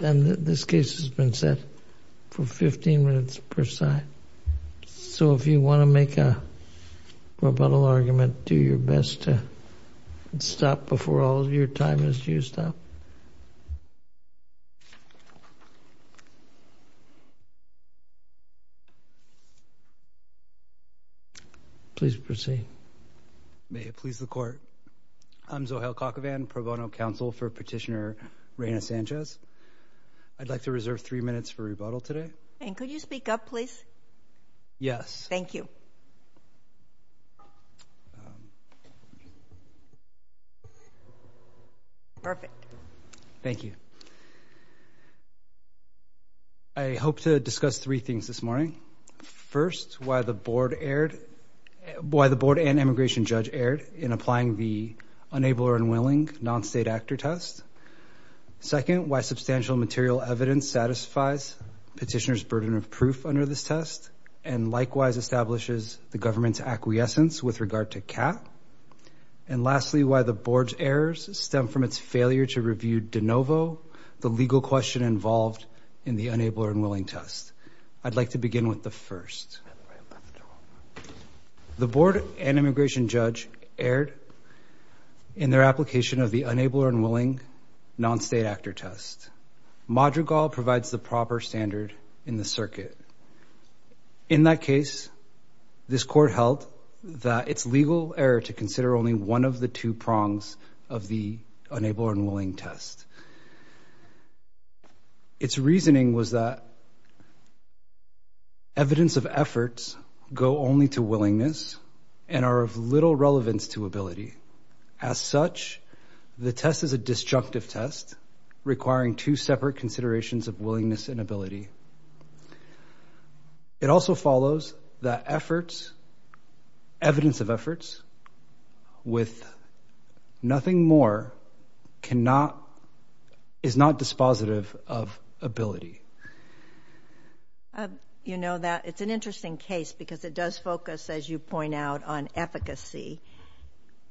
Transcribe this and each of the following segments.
This case has been set for 15 minutes per side, so if you want to make a rebuttal argument, do your best to stop before all of your time is used up. Please proceed. May it please the Court, I'm Zohail Kakavan, pro bono counsel for Petitioner Reyna Sanchez. I'd like to reserve three minutes for rebuttal today. And could you speak up, please? Yes. Thank you. Perfect. Thank you. I hope to discuss three things this morning. First, why the Board and Immigration Judge erred in applying the Unable or Unwilling Non-State Actor Test. Second, why substantial material evidence satisfies Petitioner's burden of proof under this test and likewise establishes the government's acquiescence with regard to CAAT. And lastly, why the Board's errors stem from its failure to review de novo the legal question involved in the Unable or Unwilling Test. I'd like to begin with the first. The Board and Immigration Judge erred in their application of the Unable or Unwilling Non-State Actor Test. Madrigal provides the proper standard in the circuit. In that case, this Court held that it's legal error to consider only one of the two prongs of the Unable or Unwilling Test. Its reasoning was that evidence of efforts go only to willingness and are of little relevance to ability. As such, the test is a disjunctive test requiring two separate considerations of willingness and ability. It also follows that evidence of efforts with nothing more is not dispositive of ability. You know, it's an interesting case because it does focus, as you point out, on efficacy.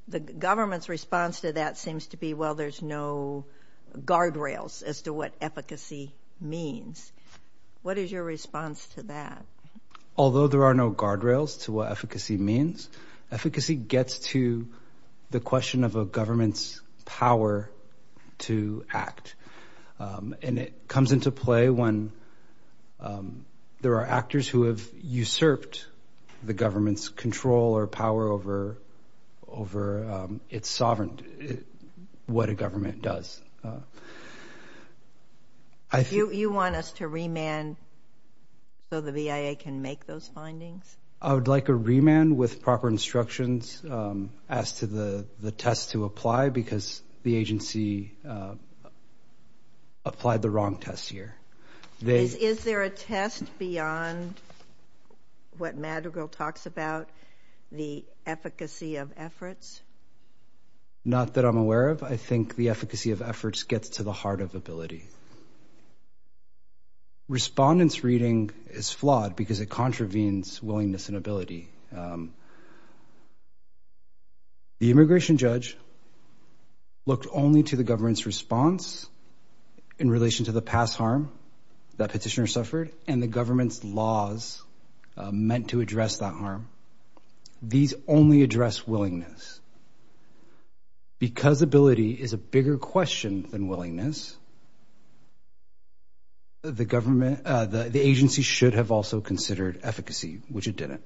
The government's response to that seems to be, well, there's no guardrails as to what efficacy means. What is your response to that? Although there are no guardrails to what efficacy means, efficacy gets to the question of a government's power to act. And it comes into play when there are actors who have usurped the government's control or power over its sovereignty, what a government does. You want us to remand so the VIA can make those findings? I would like a remand with proper instructions as to the test to apply because the agency applied the wrong test here. Is there a test beyond what Madrigal talks about, the efficacy of efforts? Not that I'm aware of. I think the efficacy of efforts gets to the heart of ability. Respondents' reading is flawed because it contravenes willingness and ability. The immigration judge looked only to the government's response in relation to the past harm that petitioner suffered and the government's laws meant to address that harm. These only address willingness. Because ability is a bigger question than willingness, the government, the agency should have also considered efficacy, which it didn't.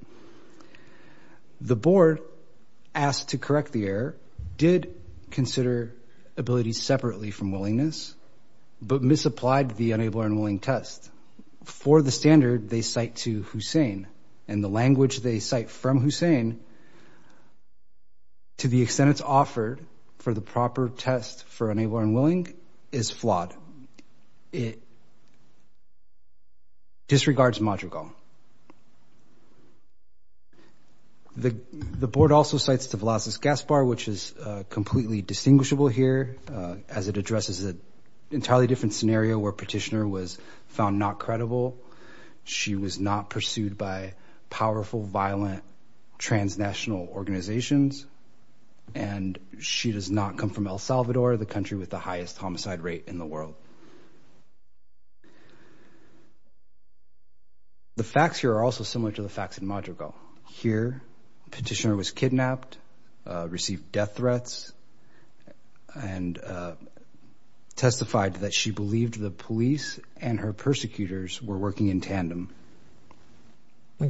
The board asked to correct the error, did consider ability separately from willingness, but misapplied the unable and unwilling test. For the standard they cite to Hussein and the language they cite from Hussein to the extent it's offered for the proper test for unable and unwilling is flawed. It disregards Madrigal. The board also cites to Velazquez Gaspar, which is completely distinguishable here as it addresses an entirely different scenario where petitioner was found not credible. She was not pursued by powerful, violent, transnational organizations, and she does not come from El Salvador, the country with the highest homicide rate in the world. The facts here are also similar to the facts in Madrigal. Here petitioner was kidnapped, received death threats, and testified that she believed the police and her persecutors were working in tandem.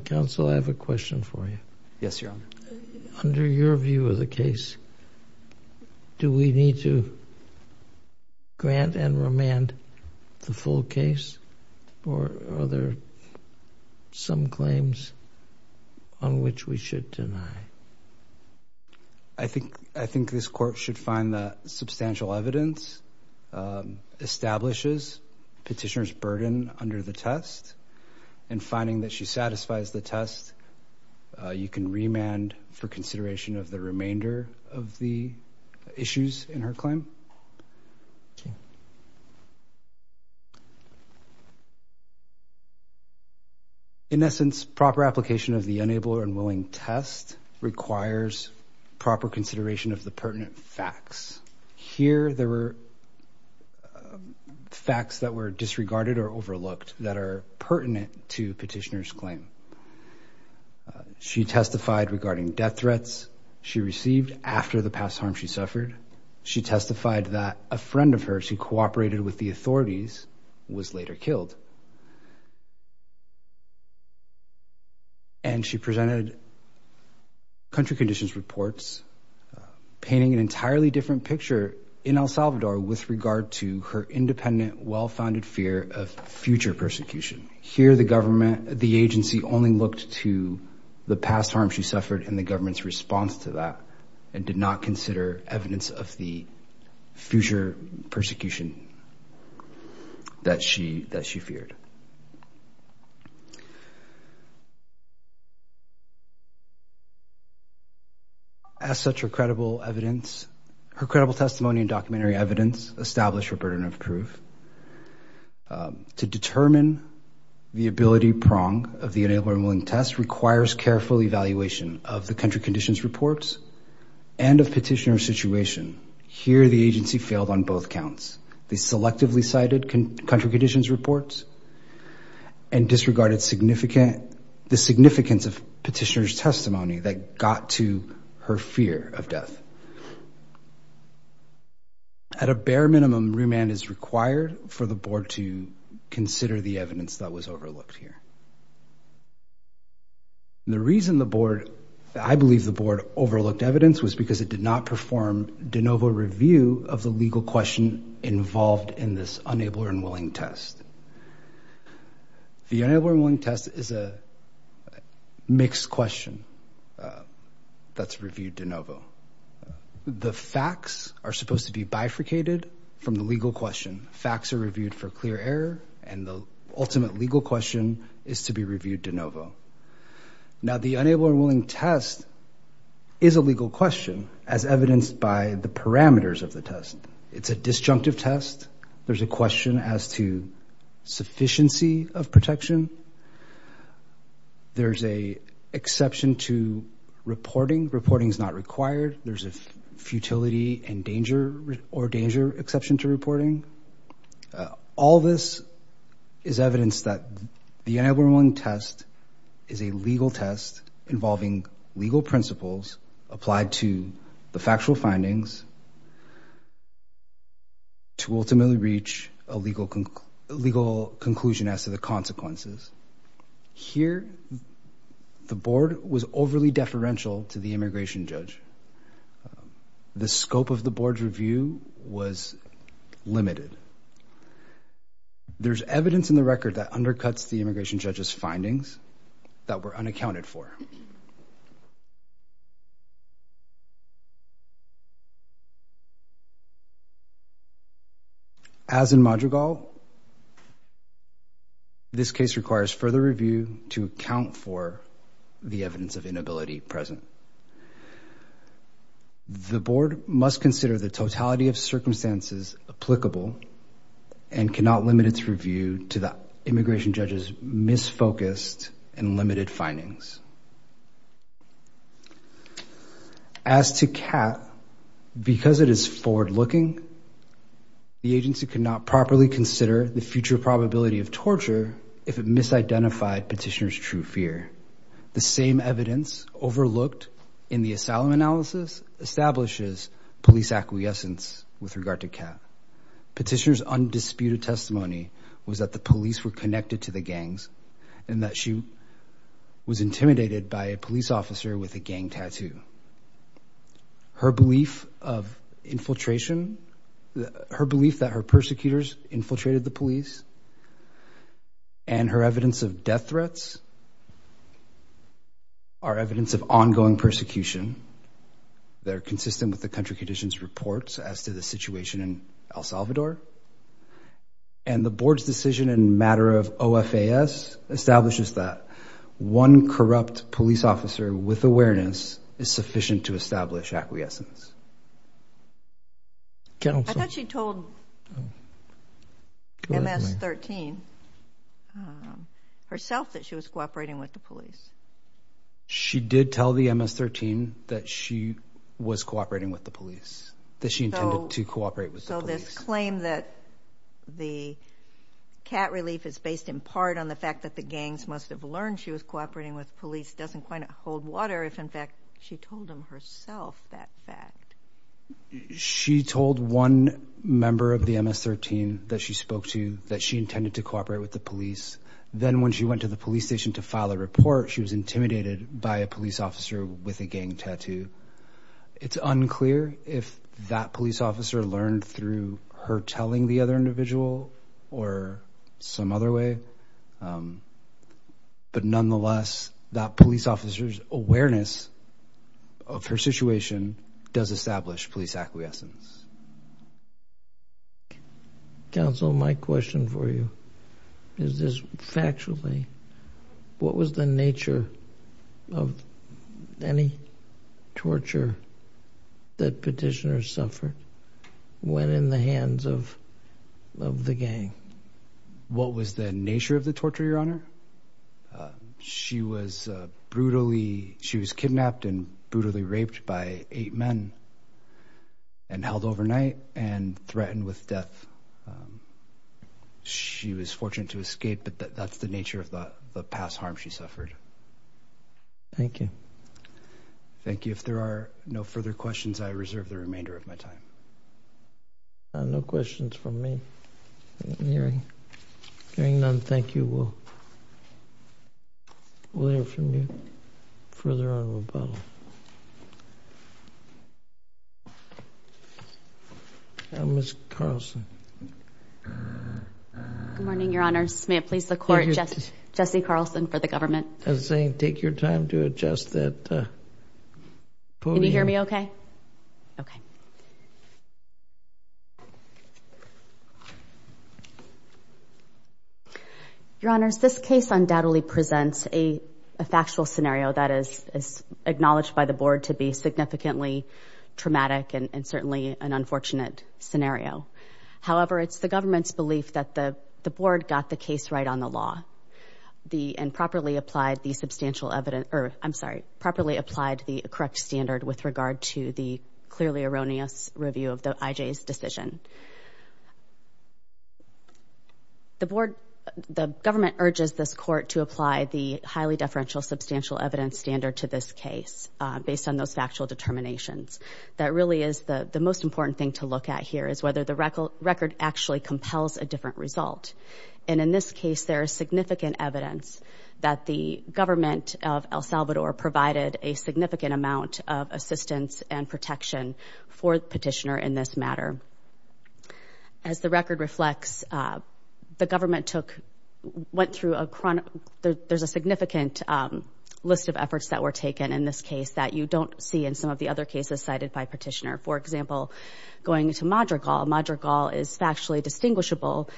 Counsel, I have a question for you. Yes, Your Honor. Under your view of the case, do we need to grant and remand the full case or are there some claims on which we should deny? I think this court should find that substantial evidence establishes petitioner's burden under the test, and finding that she satisfies the test, you can remand for consideration of the remainder of the issues in her claim. In essence, proper application of the unable and unwilling test requires proper consideration of the pertinent facts. Here there were facts that were disregarded or overlooked that are pertinent to petitioner's claim. She testified regarding death threats she received after the past harm she suffered. She testified that a friend of hers who cooperated with the authorities was later killed. And she presented country conditions reports, painting an entirely different picture in El Salvador with regard to her independent, well-founded fear of future persecution. Here the government, the agency only looked to the past harm she suffered and the government's response to that, and did not consider evidence of the future persecution that she felt. As such, her credible testimony and documentary evidence establish her burden of proof. To determine the ability prong of the unable and unwilling test requires careful evaluation of the country conditions reports and of petitioner's situation. Here the agency failed on both counts. They selectively cited country conditions reports and disregarded the significance of petitioner's testimony that got to her fear of death. At a bare minimum, remand is required for the board to consider the evidence that was overlooked here. The reason I believe the board overlooked evidence was because it did not perform de novo. The facts are supposed to be bifurcated from the legal question. Facts are reviewed for clear error and the ultimate legal question is to be reviewed de novo. Now the unable and unwilling test is a legal question as evidenced by the parameters of the test. It's a disjunctive test. There's a question as to sufficiency of protection. There's a exception to reporting. Reporting is not required. There's a futility and danger or danger exception to reporting. All this is evidence that the unable and unwilling test is a legal test involving legal principles applied to the factual findings to ultimately reach a legal conclusion as to the consequences. Here the board was overly deferential to the immigration judge. The scope of the board's review was limited. There's evidence in the record that undercuts the immigration judge's findings that were As in Madrigal, this case requires further review to account for the evidence of inability present. The board must consider the totality of circumstances applicable and cannot limit its review to immigration judge's misfocused and limited findings. As to CAT, because it is forward-looking, the agency could not properly consider the future probability of torture if it misidentified petitioner's true fear. The same evidence overlooked in the asylum analysis establishes police acquiescence with regard to CAT. Petitioner's undisputed testimony was that the police were connected to the gangs and that she was intimidated by a police officer with a gang tattoo. Her belief of infiltration, her belief that her persecutors infiltrated the police and her evidence of death threats are evidence of ongoing persecution. They're consistent with the country conditions reports as to the situation in El Salvador. And the board's decision in matter of OFAS establishes that one corrupt police officer with awareness is sufficient to establish acquiescence. I thought she told MS-13 herself that she was cooperating with the police. She did tell the MS-13 that she was cooperating with the police, that she intended to cooperate with the police. So this claim that the CAT relief is based in part on the fact that the gangs must have learned she was cooperating with police doesn't quite hold water if, in fact, she told them herself that fact. She told one member of the MS-13 that she spoke to that she intended to cooperate with the police. Then when she went to the police station to file a report, she was intimidated by a police officer with a gang tattoo. It's unclear if that police officer learned through her telling the other individual or some other way. But nonetheless, that police officer's awareness of her situation does establish police acquiescence. Counsel, my question for you is this, factually, what was the nature of any torture that petitioners suffered when in the hands of the gang? What was the nature of the torture, Your Honor? She was brutally, she was kidnapped and brutally raped by eight men and held overnight and threatened with death. She was fortunate to escape, but that's the nature of the past harm she suffered. Thank you. Thank you. If there are no further questions, I reserve the remainder of my time. No questions from me. Hearing none, thank you. We'll hear from you further on in rebuttal. Ms. Carlson. Good morning, Your Honor. May it please the Court, Jesse Carlson for the government. As I was saying, take your time to adjust that podium. Can you hear me okay? Okay. Your Honor, this case undoubtedly presents a factual scenario that is acknowledged by the Board to be significantly traumatic and certainly an unfortunate scenario. However, it's the government's belief that the Board got the case right on the law and properly applied the substantial evidence, I'm sorry, properly applied the correct standard with regard to the clearly erroneous review of the IJ's decision. The Board, the government urges this Court to apply the highly deferential substantial evidence standard to this case based on those factual determinations. That really is the most important thing to look at here is whether the record actually compels a different result. And in this case, there is significant evidence that the government of El Salvador provided a significant amount of assistance and protection for Petitioner in this matter. As the record reflects, the government took, went through a, there's a significant list of efforts that were taken in this case that you don't see in some of the other cases cited by Petitioner. For example, going into Madrigal, Madrigal is factually distinguishable.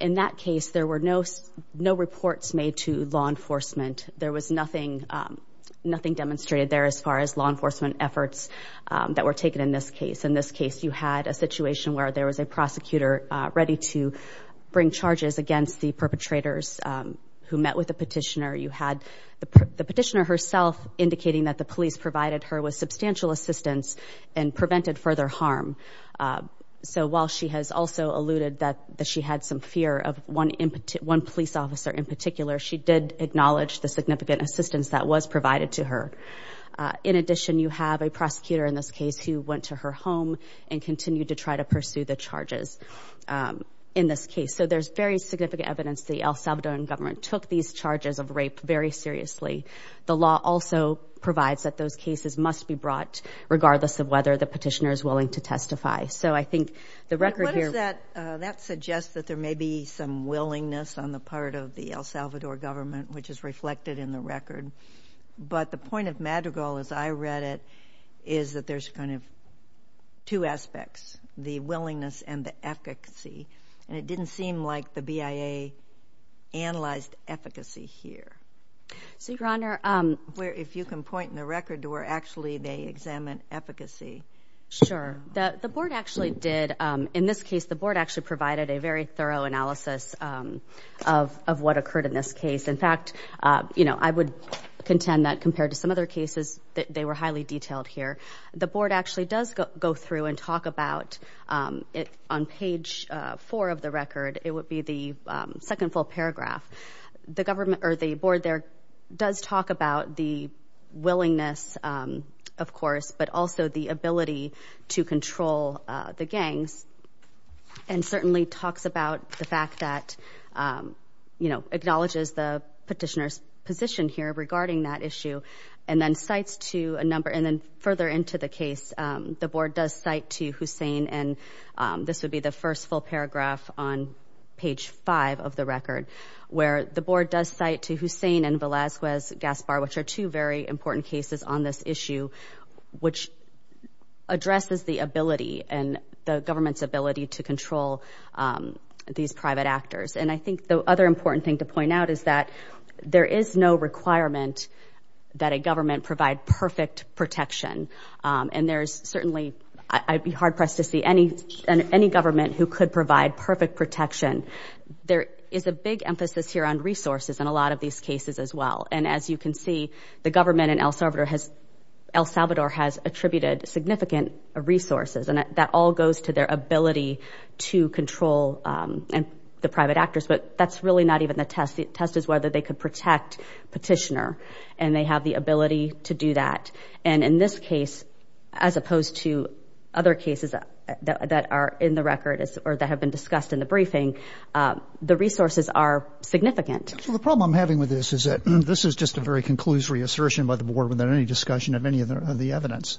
In that case, there were no reports made to law enforcement. There was nothing, nothing demonstrated there as far as law enforcement efforts that were taken in this case. In this case, you had a situation where there was a prosecutor ready to bring charges against the perpetrators who met with the Petitioner. You had the Petitioner herself indicating that the police provided her with substantial assistance and prevented further harm. So while she has also alluded that she had some fear of one police officer in particular, she did acknowledge the significant assistance that was provided to her. In addition, you have a prosecutor in this case who went to her home and continued to try to pursue the charges in this case. So there's very significant evidence the El Salvadoran government took these charges of rape very seriously. The law also provides that those cases must be brought regardless of whether the Petitioner is willing to testify. So I think the record here... of the El Salvador government, which is reflected in the record. But the point of Madrigal, as I read it, is that there's kind of two aspects, the willingness and the efficacy. And it didn't seem like the BIA analyzed efficacy here. So, Your Honor... If you can point in the record to where actually they examined efficacy. Sure. The board actually did. Of what occurred in this case. In fact, you know, I would contend that compared to some other cases, they were highly detailed here. The board actually does go through and talk about it on page four of the record. It would be the second full paragraph. The government or the board there does talk about the willingness, of course, but also the ability to control the gangs. And certainly talks about the fact that, you know, acknowledges the Petitioner's position here regarding that issue. And then cites to a number... and then further into the case, the board does cite to Hussain and this would be the first full paragraph on page five of the record. Where the board does cite to Hussain and Velazquez Gaspar, which are two very important cases on this issue, which addresses the ability and the government's ability to control these private actors. And I think the other important thing to point out is that there is no requirement that a government provide perfect protection. And there's certainly... I'd be hard pressed to see any government who could provide perfect protection. There is a big emphasis here on resources in a lot of these cases as well. And as you can see, the government in El Salvador has attributed significant resources. And that all goes to their ability to control the private actors, but that's really not even the test. The test is whether they could protect Petitioner and they have the ability to do that. And in this case, as opposed to other cases that are in the record or that have been discussed in the briefing, the resources are significant. So the problem I'm having with this is that this is just a very conclusory assertion by the board without any discussion of any of the evidence.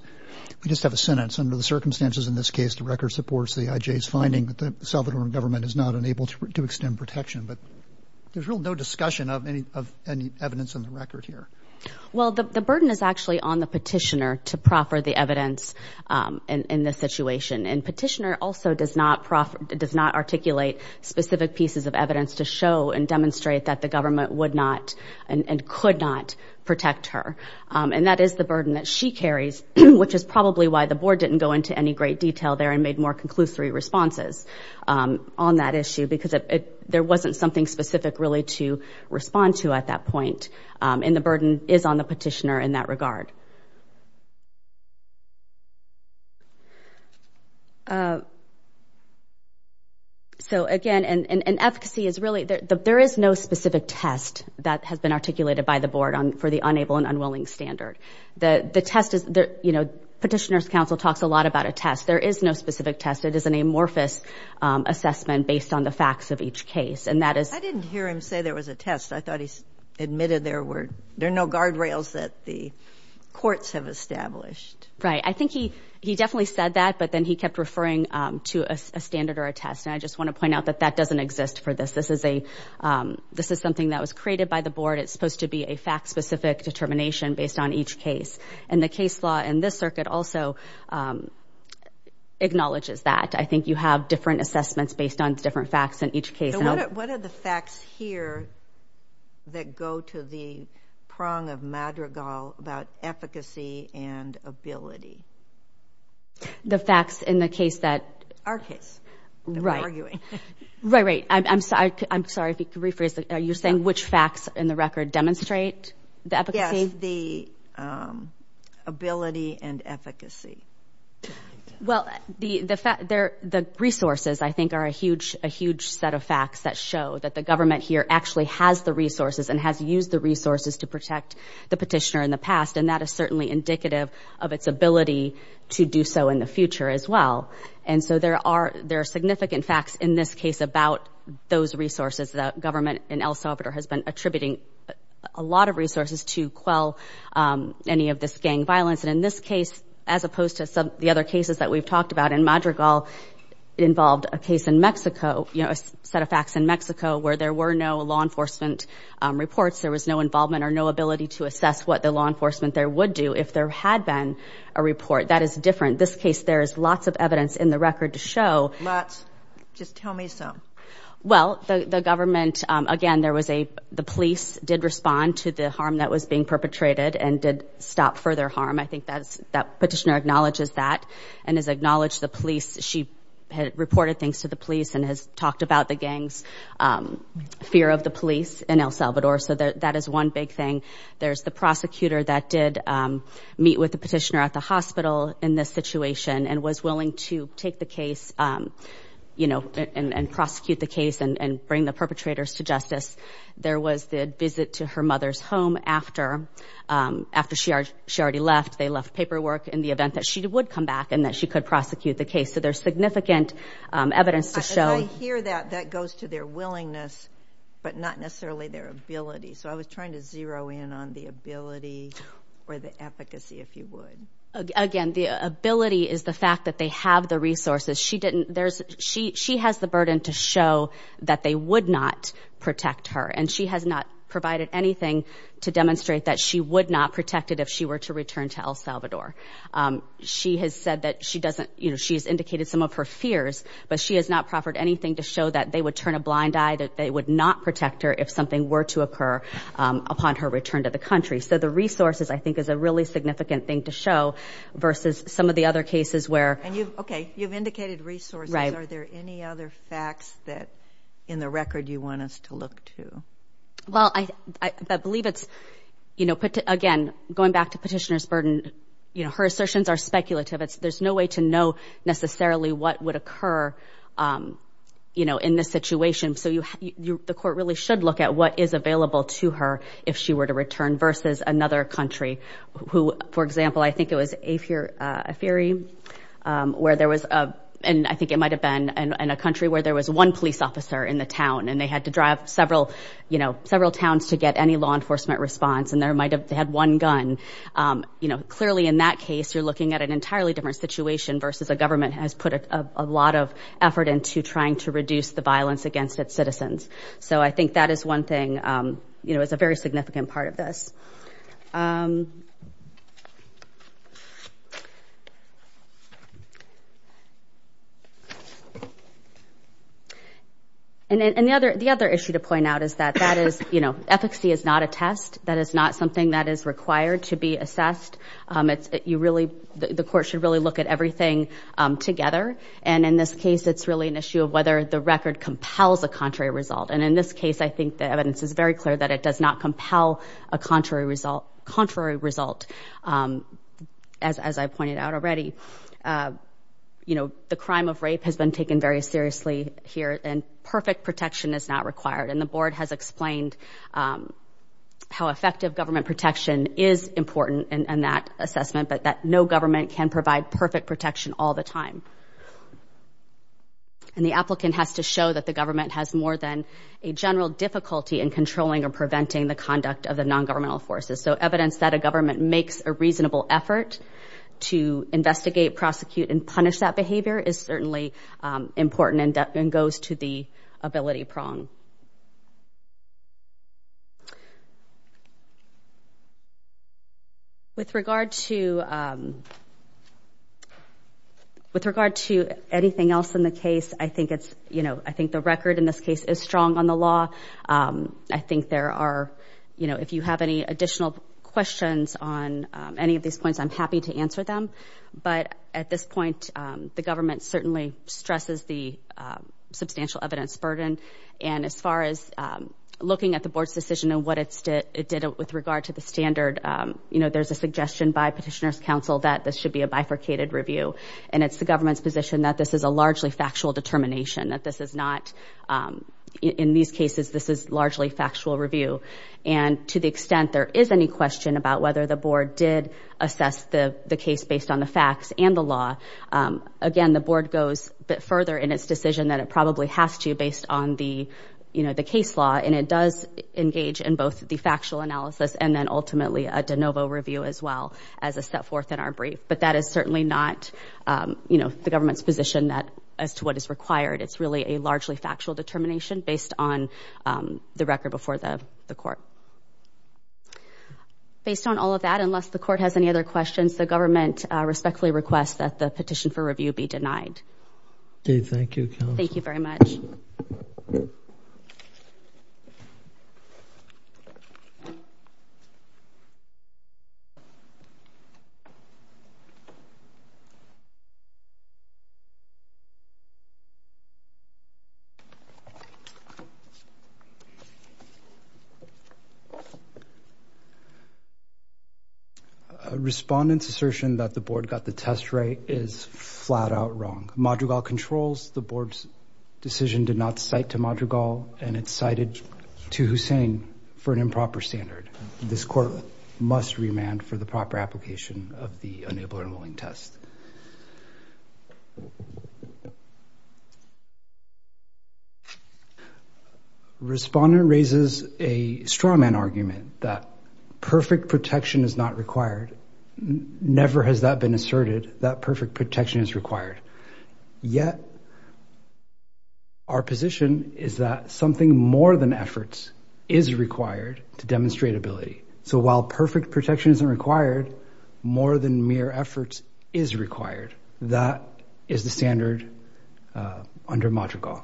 We just have a sentence, under the circumstances in this case, the record supports the IJ's finding that the Salvadoran government is not unable to extend protection. But there's really no discussion of any evidence in the record here. Well, the burden is actually on the Petitioner to proffer the evidence in this situation. And Petitioner also does not articulate specific pieces of evidence to show and demonstrate that the government would not and could not protect her. And that is the burden that she carries, which is probably why the board didn't go into any great detail there and made more conclusory responses on that issue because there wasn't something specific really to respond to at that point. And the burden is on the Petitioner in that regard. So, again, and efficacy is really, there is no specific test that has been articulated by the board for the unable and unwilling standard. The test is, you know, Petitioner's counsel talks a lot about a test. There is no specific test. It is an amorphous assessment based on the facts of each case. And that is... I didn't hear him say there was a test. I thought he admitted there were, there are no guardrails that the courts have established. Right. I think he definitely said that, but then he kept referring to a standard or a test. And I just want to point out that that doesn't exist for this. This is a, this is something that was created by the board. It's supposed to be a fact-specific determination based on each case. And the case law in this circuit also acknowledges that. I think you have different assessments based on different facts in each case. So, what are the facts here that go to the prong of Madrigal about efficacy and ability? The facts in the case that... Right. That we're arguing. Right, right. I'm sorry if you could rephrase that. Are you saying which facts in the record demonstrate the efficacy? Yes. The ability and efficacy. Well, the resources, I think, are a huge, a huge set of facts that show that the government here actually has the resources and has used the resources to protect the petitioner in the past. And that is certainly indicative of its ability to do so in the future as well. And so, there are significant facts in this case about those resources that government and El Salvador has been attributing a lot of resources to quell any of this gang violence. And in this case, as opposed to some of the other cases that we've talked about, in Madrigal involved a case in Mexico, you know, a set of facts in Mexico where there were no law enforcement reports. There was no involvement or no ability to assess what the law enforcement there would do if there had been a report. That is different. This case, there is lots of evidence in the record to show... Lots? Just tell me some. Well, the government, again, there was a... The police did respond to the harm that was being perpetrated and did stop further harm. I think that petitioner acknowledges that and has acknowledged the police. She had reported things to the police and has talked about the gang's fear of the police in El Salvador. So, that is one big thing. There's the prosecutor that did meet with the petitioner at the hospital in this situation and was willing to take the case, you know, and prosecute the case and bring the perpetrators to justice. There was the visit to her mother's home after she already left. They left paperwork in the event that she would come back and that she could prosecute the case. So, there's significant evidence to show... I hear that. That goes to their willingness, but not necessarily their ability. So, I was trying to zero in on the ability or the efficacy, if you would. Again, the ability is the fact that they have the resources. She didn't... There's... She has the burden to show that they would not protect her, and she has not provided anything to demonstrate that she would not protect it if she were to return to El Salvador. She has said that she doesn't, you know, she's indicated some of her fears, but she has not proffered anything to show that they would turn a blind eye, that they would not protect her if something were to occur upon her return to the country. So, the resources, I think, is a really significant thing to show versus some of the other cases where... So, provided resources, are there any other facts that, in the record, you want us to look to? Well, I believe it's, you know, again, going back to petitioner's burden, you know, her assertions are speculative. There's no way to know, necessarily, what would occur, you know, in this situation. So, you... The court really should look at what is available to her if she were to return versus another country who, for example, I think it was Eifere, where there was a... And I think it might have been in a country where there was one police officer in the town and they had to drive several, you know, several towns to get any law enforcement response and there might have... They had one gun. You know, clearly, in that case, you're looking at an entirely different situation versus a government has put a lot of effort into trying to reduce the violence against its citizens. So I think that is one thing, you know, it's a very significant part of this. And the other issue to point out is that that is, you know, efficacy is not a test. That is not something that is required to be assessed. You really... The court should really look at everything together and, in this case, it's really an And in this case, I think the evidence is very clear that it does not compel a contrary result, as I pointed out already. You know, the crime of rape has been taken very seriously here and perfect protection is not required. And the board has explained how effective government protection is important in that assessment, but that no government can provide perfect protection all the time. And the applicant has to show that the government has more than a general difficulty in controlling or preventing the conduct of the non-governmental forces. So evidence that a government makes a reasonable effort to investigate, prosecute, and punish that behavior is certainly important and goes to the ability prong. With regard to anything else in the case, I think it's, you know, I think the record in this case is strong on the law. I think there are, you know, if you have any additional questions on any of these points, I'm happy to answer them. But at this point, the government certainly stresses the substantial evidence burden. And as far as looking at the board's decision and what it did with regard to the standard, you know, there's a suggestion by Petitioner's Council that this should be a bifurcated review. And it's the government's position that this is a largely factual determination, that this is not, in these cases, this is largely factual review. And to the extent there is any question about whether the board did assess the case based on the facts and the law, again, the board goes a bit further in its decision that it probably has to based on the, you know, the case law. And it does engage in both the factual analysis and then ultimately a de novo review as well as a step forth in our brief. But that is certainly not, you know, the government's position that as to what is required. It's really a largely factual determination based on the record before the court. Based on all of that, unless the court has any other questions, the government respectfully requests that the petition for review be denied. Okay. Thank you. Thank you very much. A respondent's assertion that the board got the test right is flat out wrong. Madrigal controls the board's decision to not cite to Madrigal and it's cited to Hussain for an improper standard. This court must remand for the proper application of the unable and unwilling test. Respondent raises a straw man argument that perfect protection is not required. Never has that been asserted, that perfect protection is required, yet our position is that something more than efforts is required to demonstrate ability. So while perfect protection isn't required, more than mere efforts is required. That is the standard under Madrigal.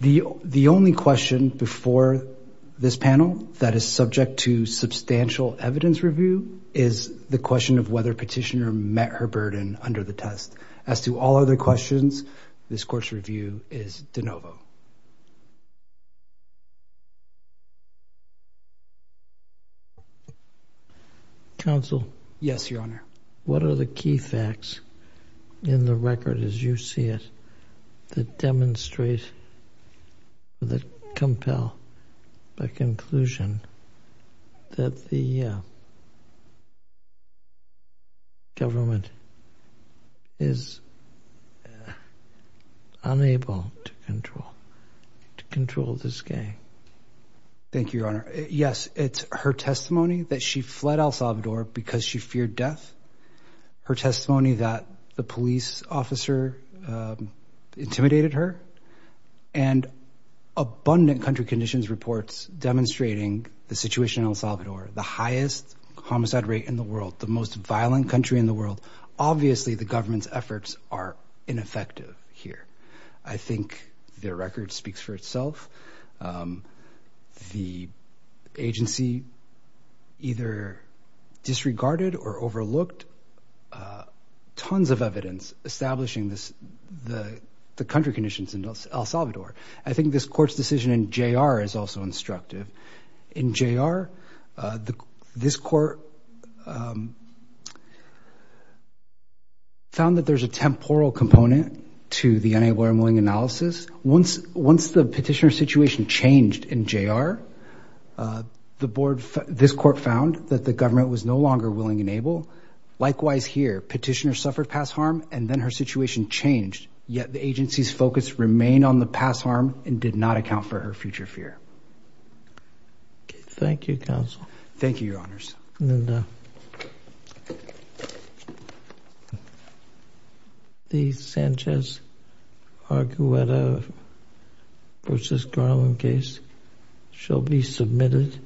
The only question before this panel that is subject to substantial evidence review is the question of whether petitioner met her burden under the test. As to all other questions, this court's review is de novo. Counsel? Yes, Your Honor. What are the key facts in the record as you see it that demonstrate, that compel the conclusion that the government is unable to control, to control this gang? Thank you, Your Honor. Yes, it's her testimony that she fled El Salvador because she feared death. Her testimony that the police officer intimidated her and abundant country conditions reports demonstrating the situation in El Salvador. The highest homicide rate in the world, the most violent country in the world. Obviously the government's efforts are ineffective here. I think the record speaks for itself. The agency either disregarded or overlooked tons of evidence establishing this, the country conditions in El Salvador. I think this court's decision in J.R. is also instructive. In J.R., this court found that there's a temporal component to the unable and unwilling analysis. Once the petitioner situation changed in J.R., this court found that the government was no longer willing and able. Likewise here, petitioner suffered past harm and then her situation changed. Yet the agency's focus remained on the past harm and did not account for her future fear. Thank you, counsel. Thank you, Your Honors. The Sanchez-Agueda versus Garland case shall be submitted.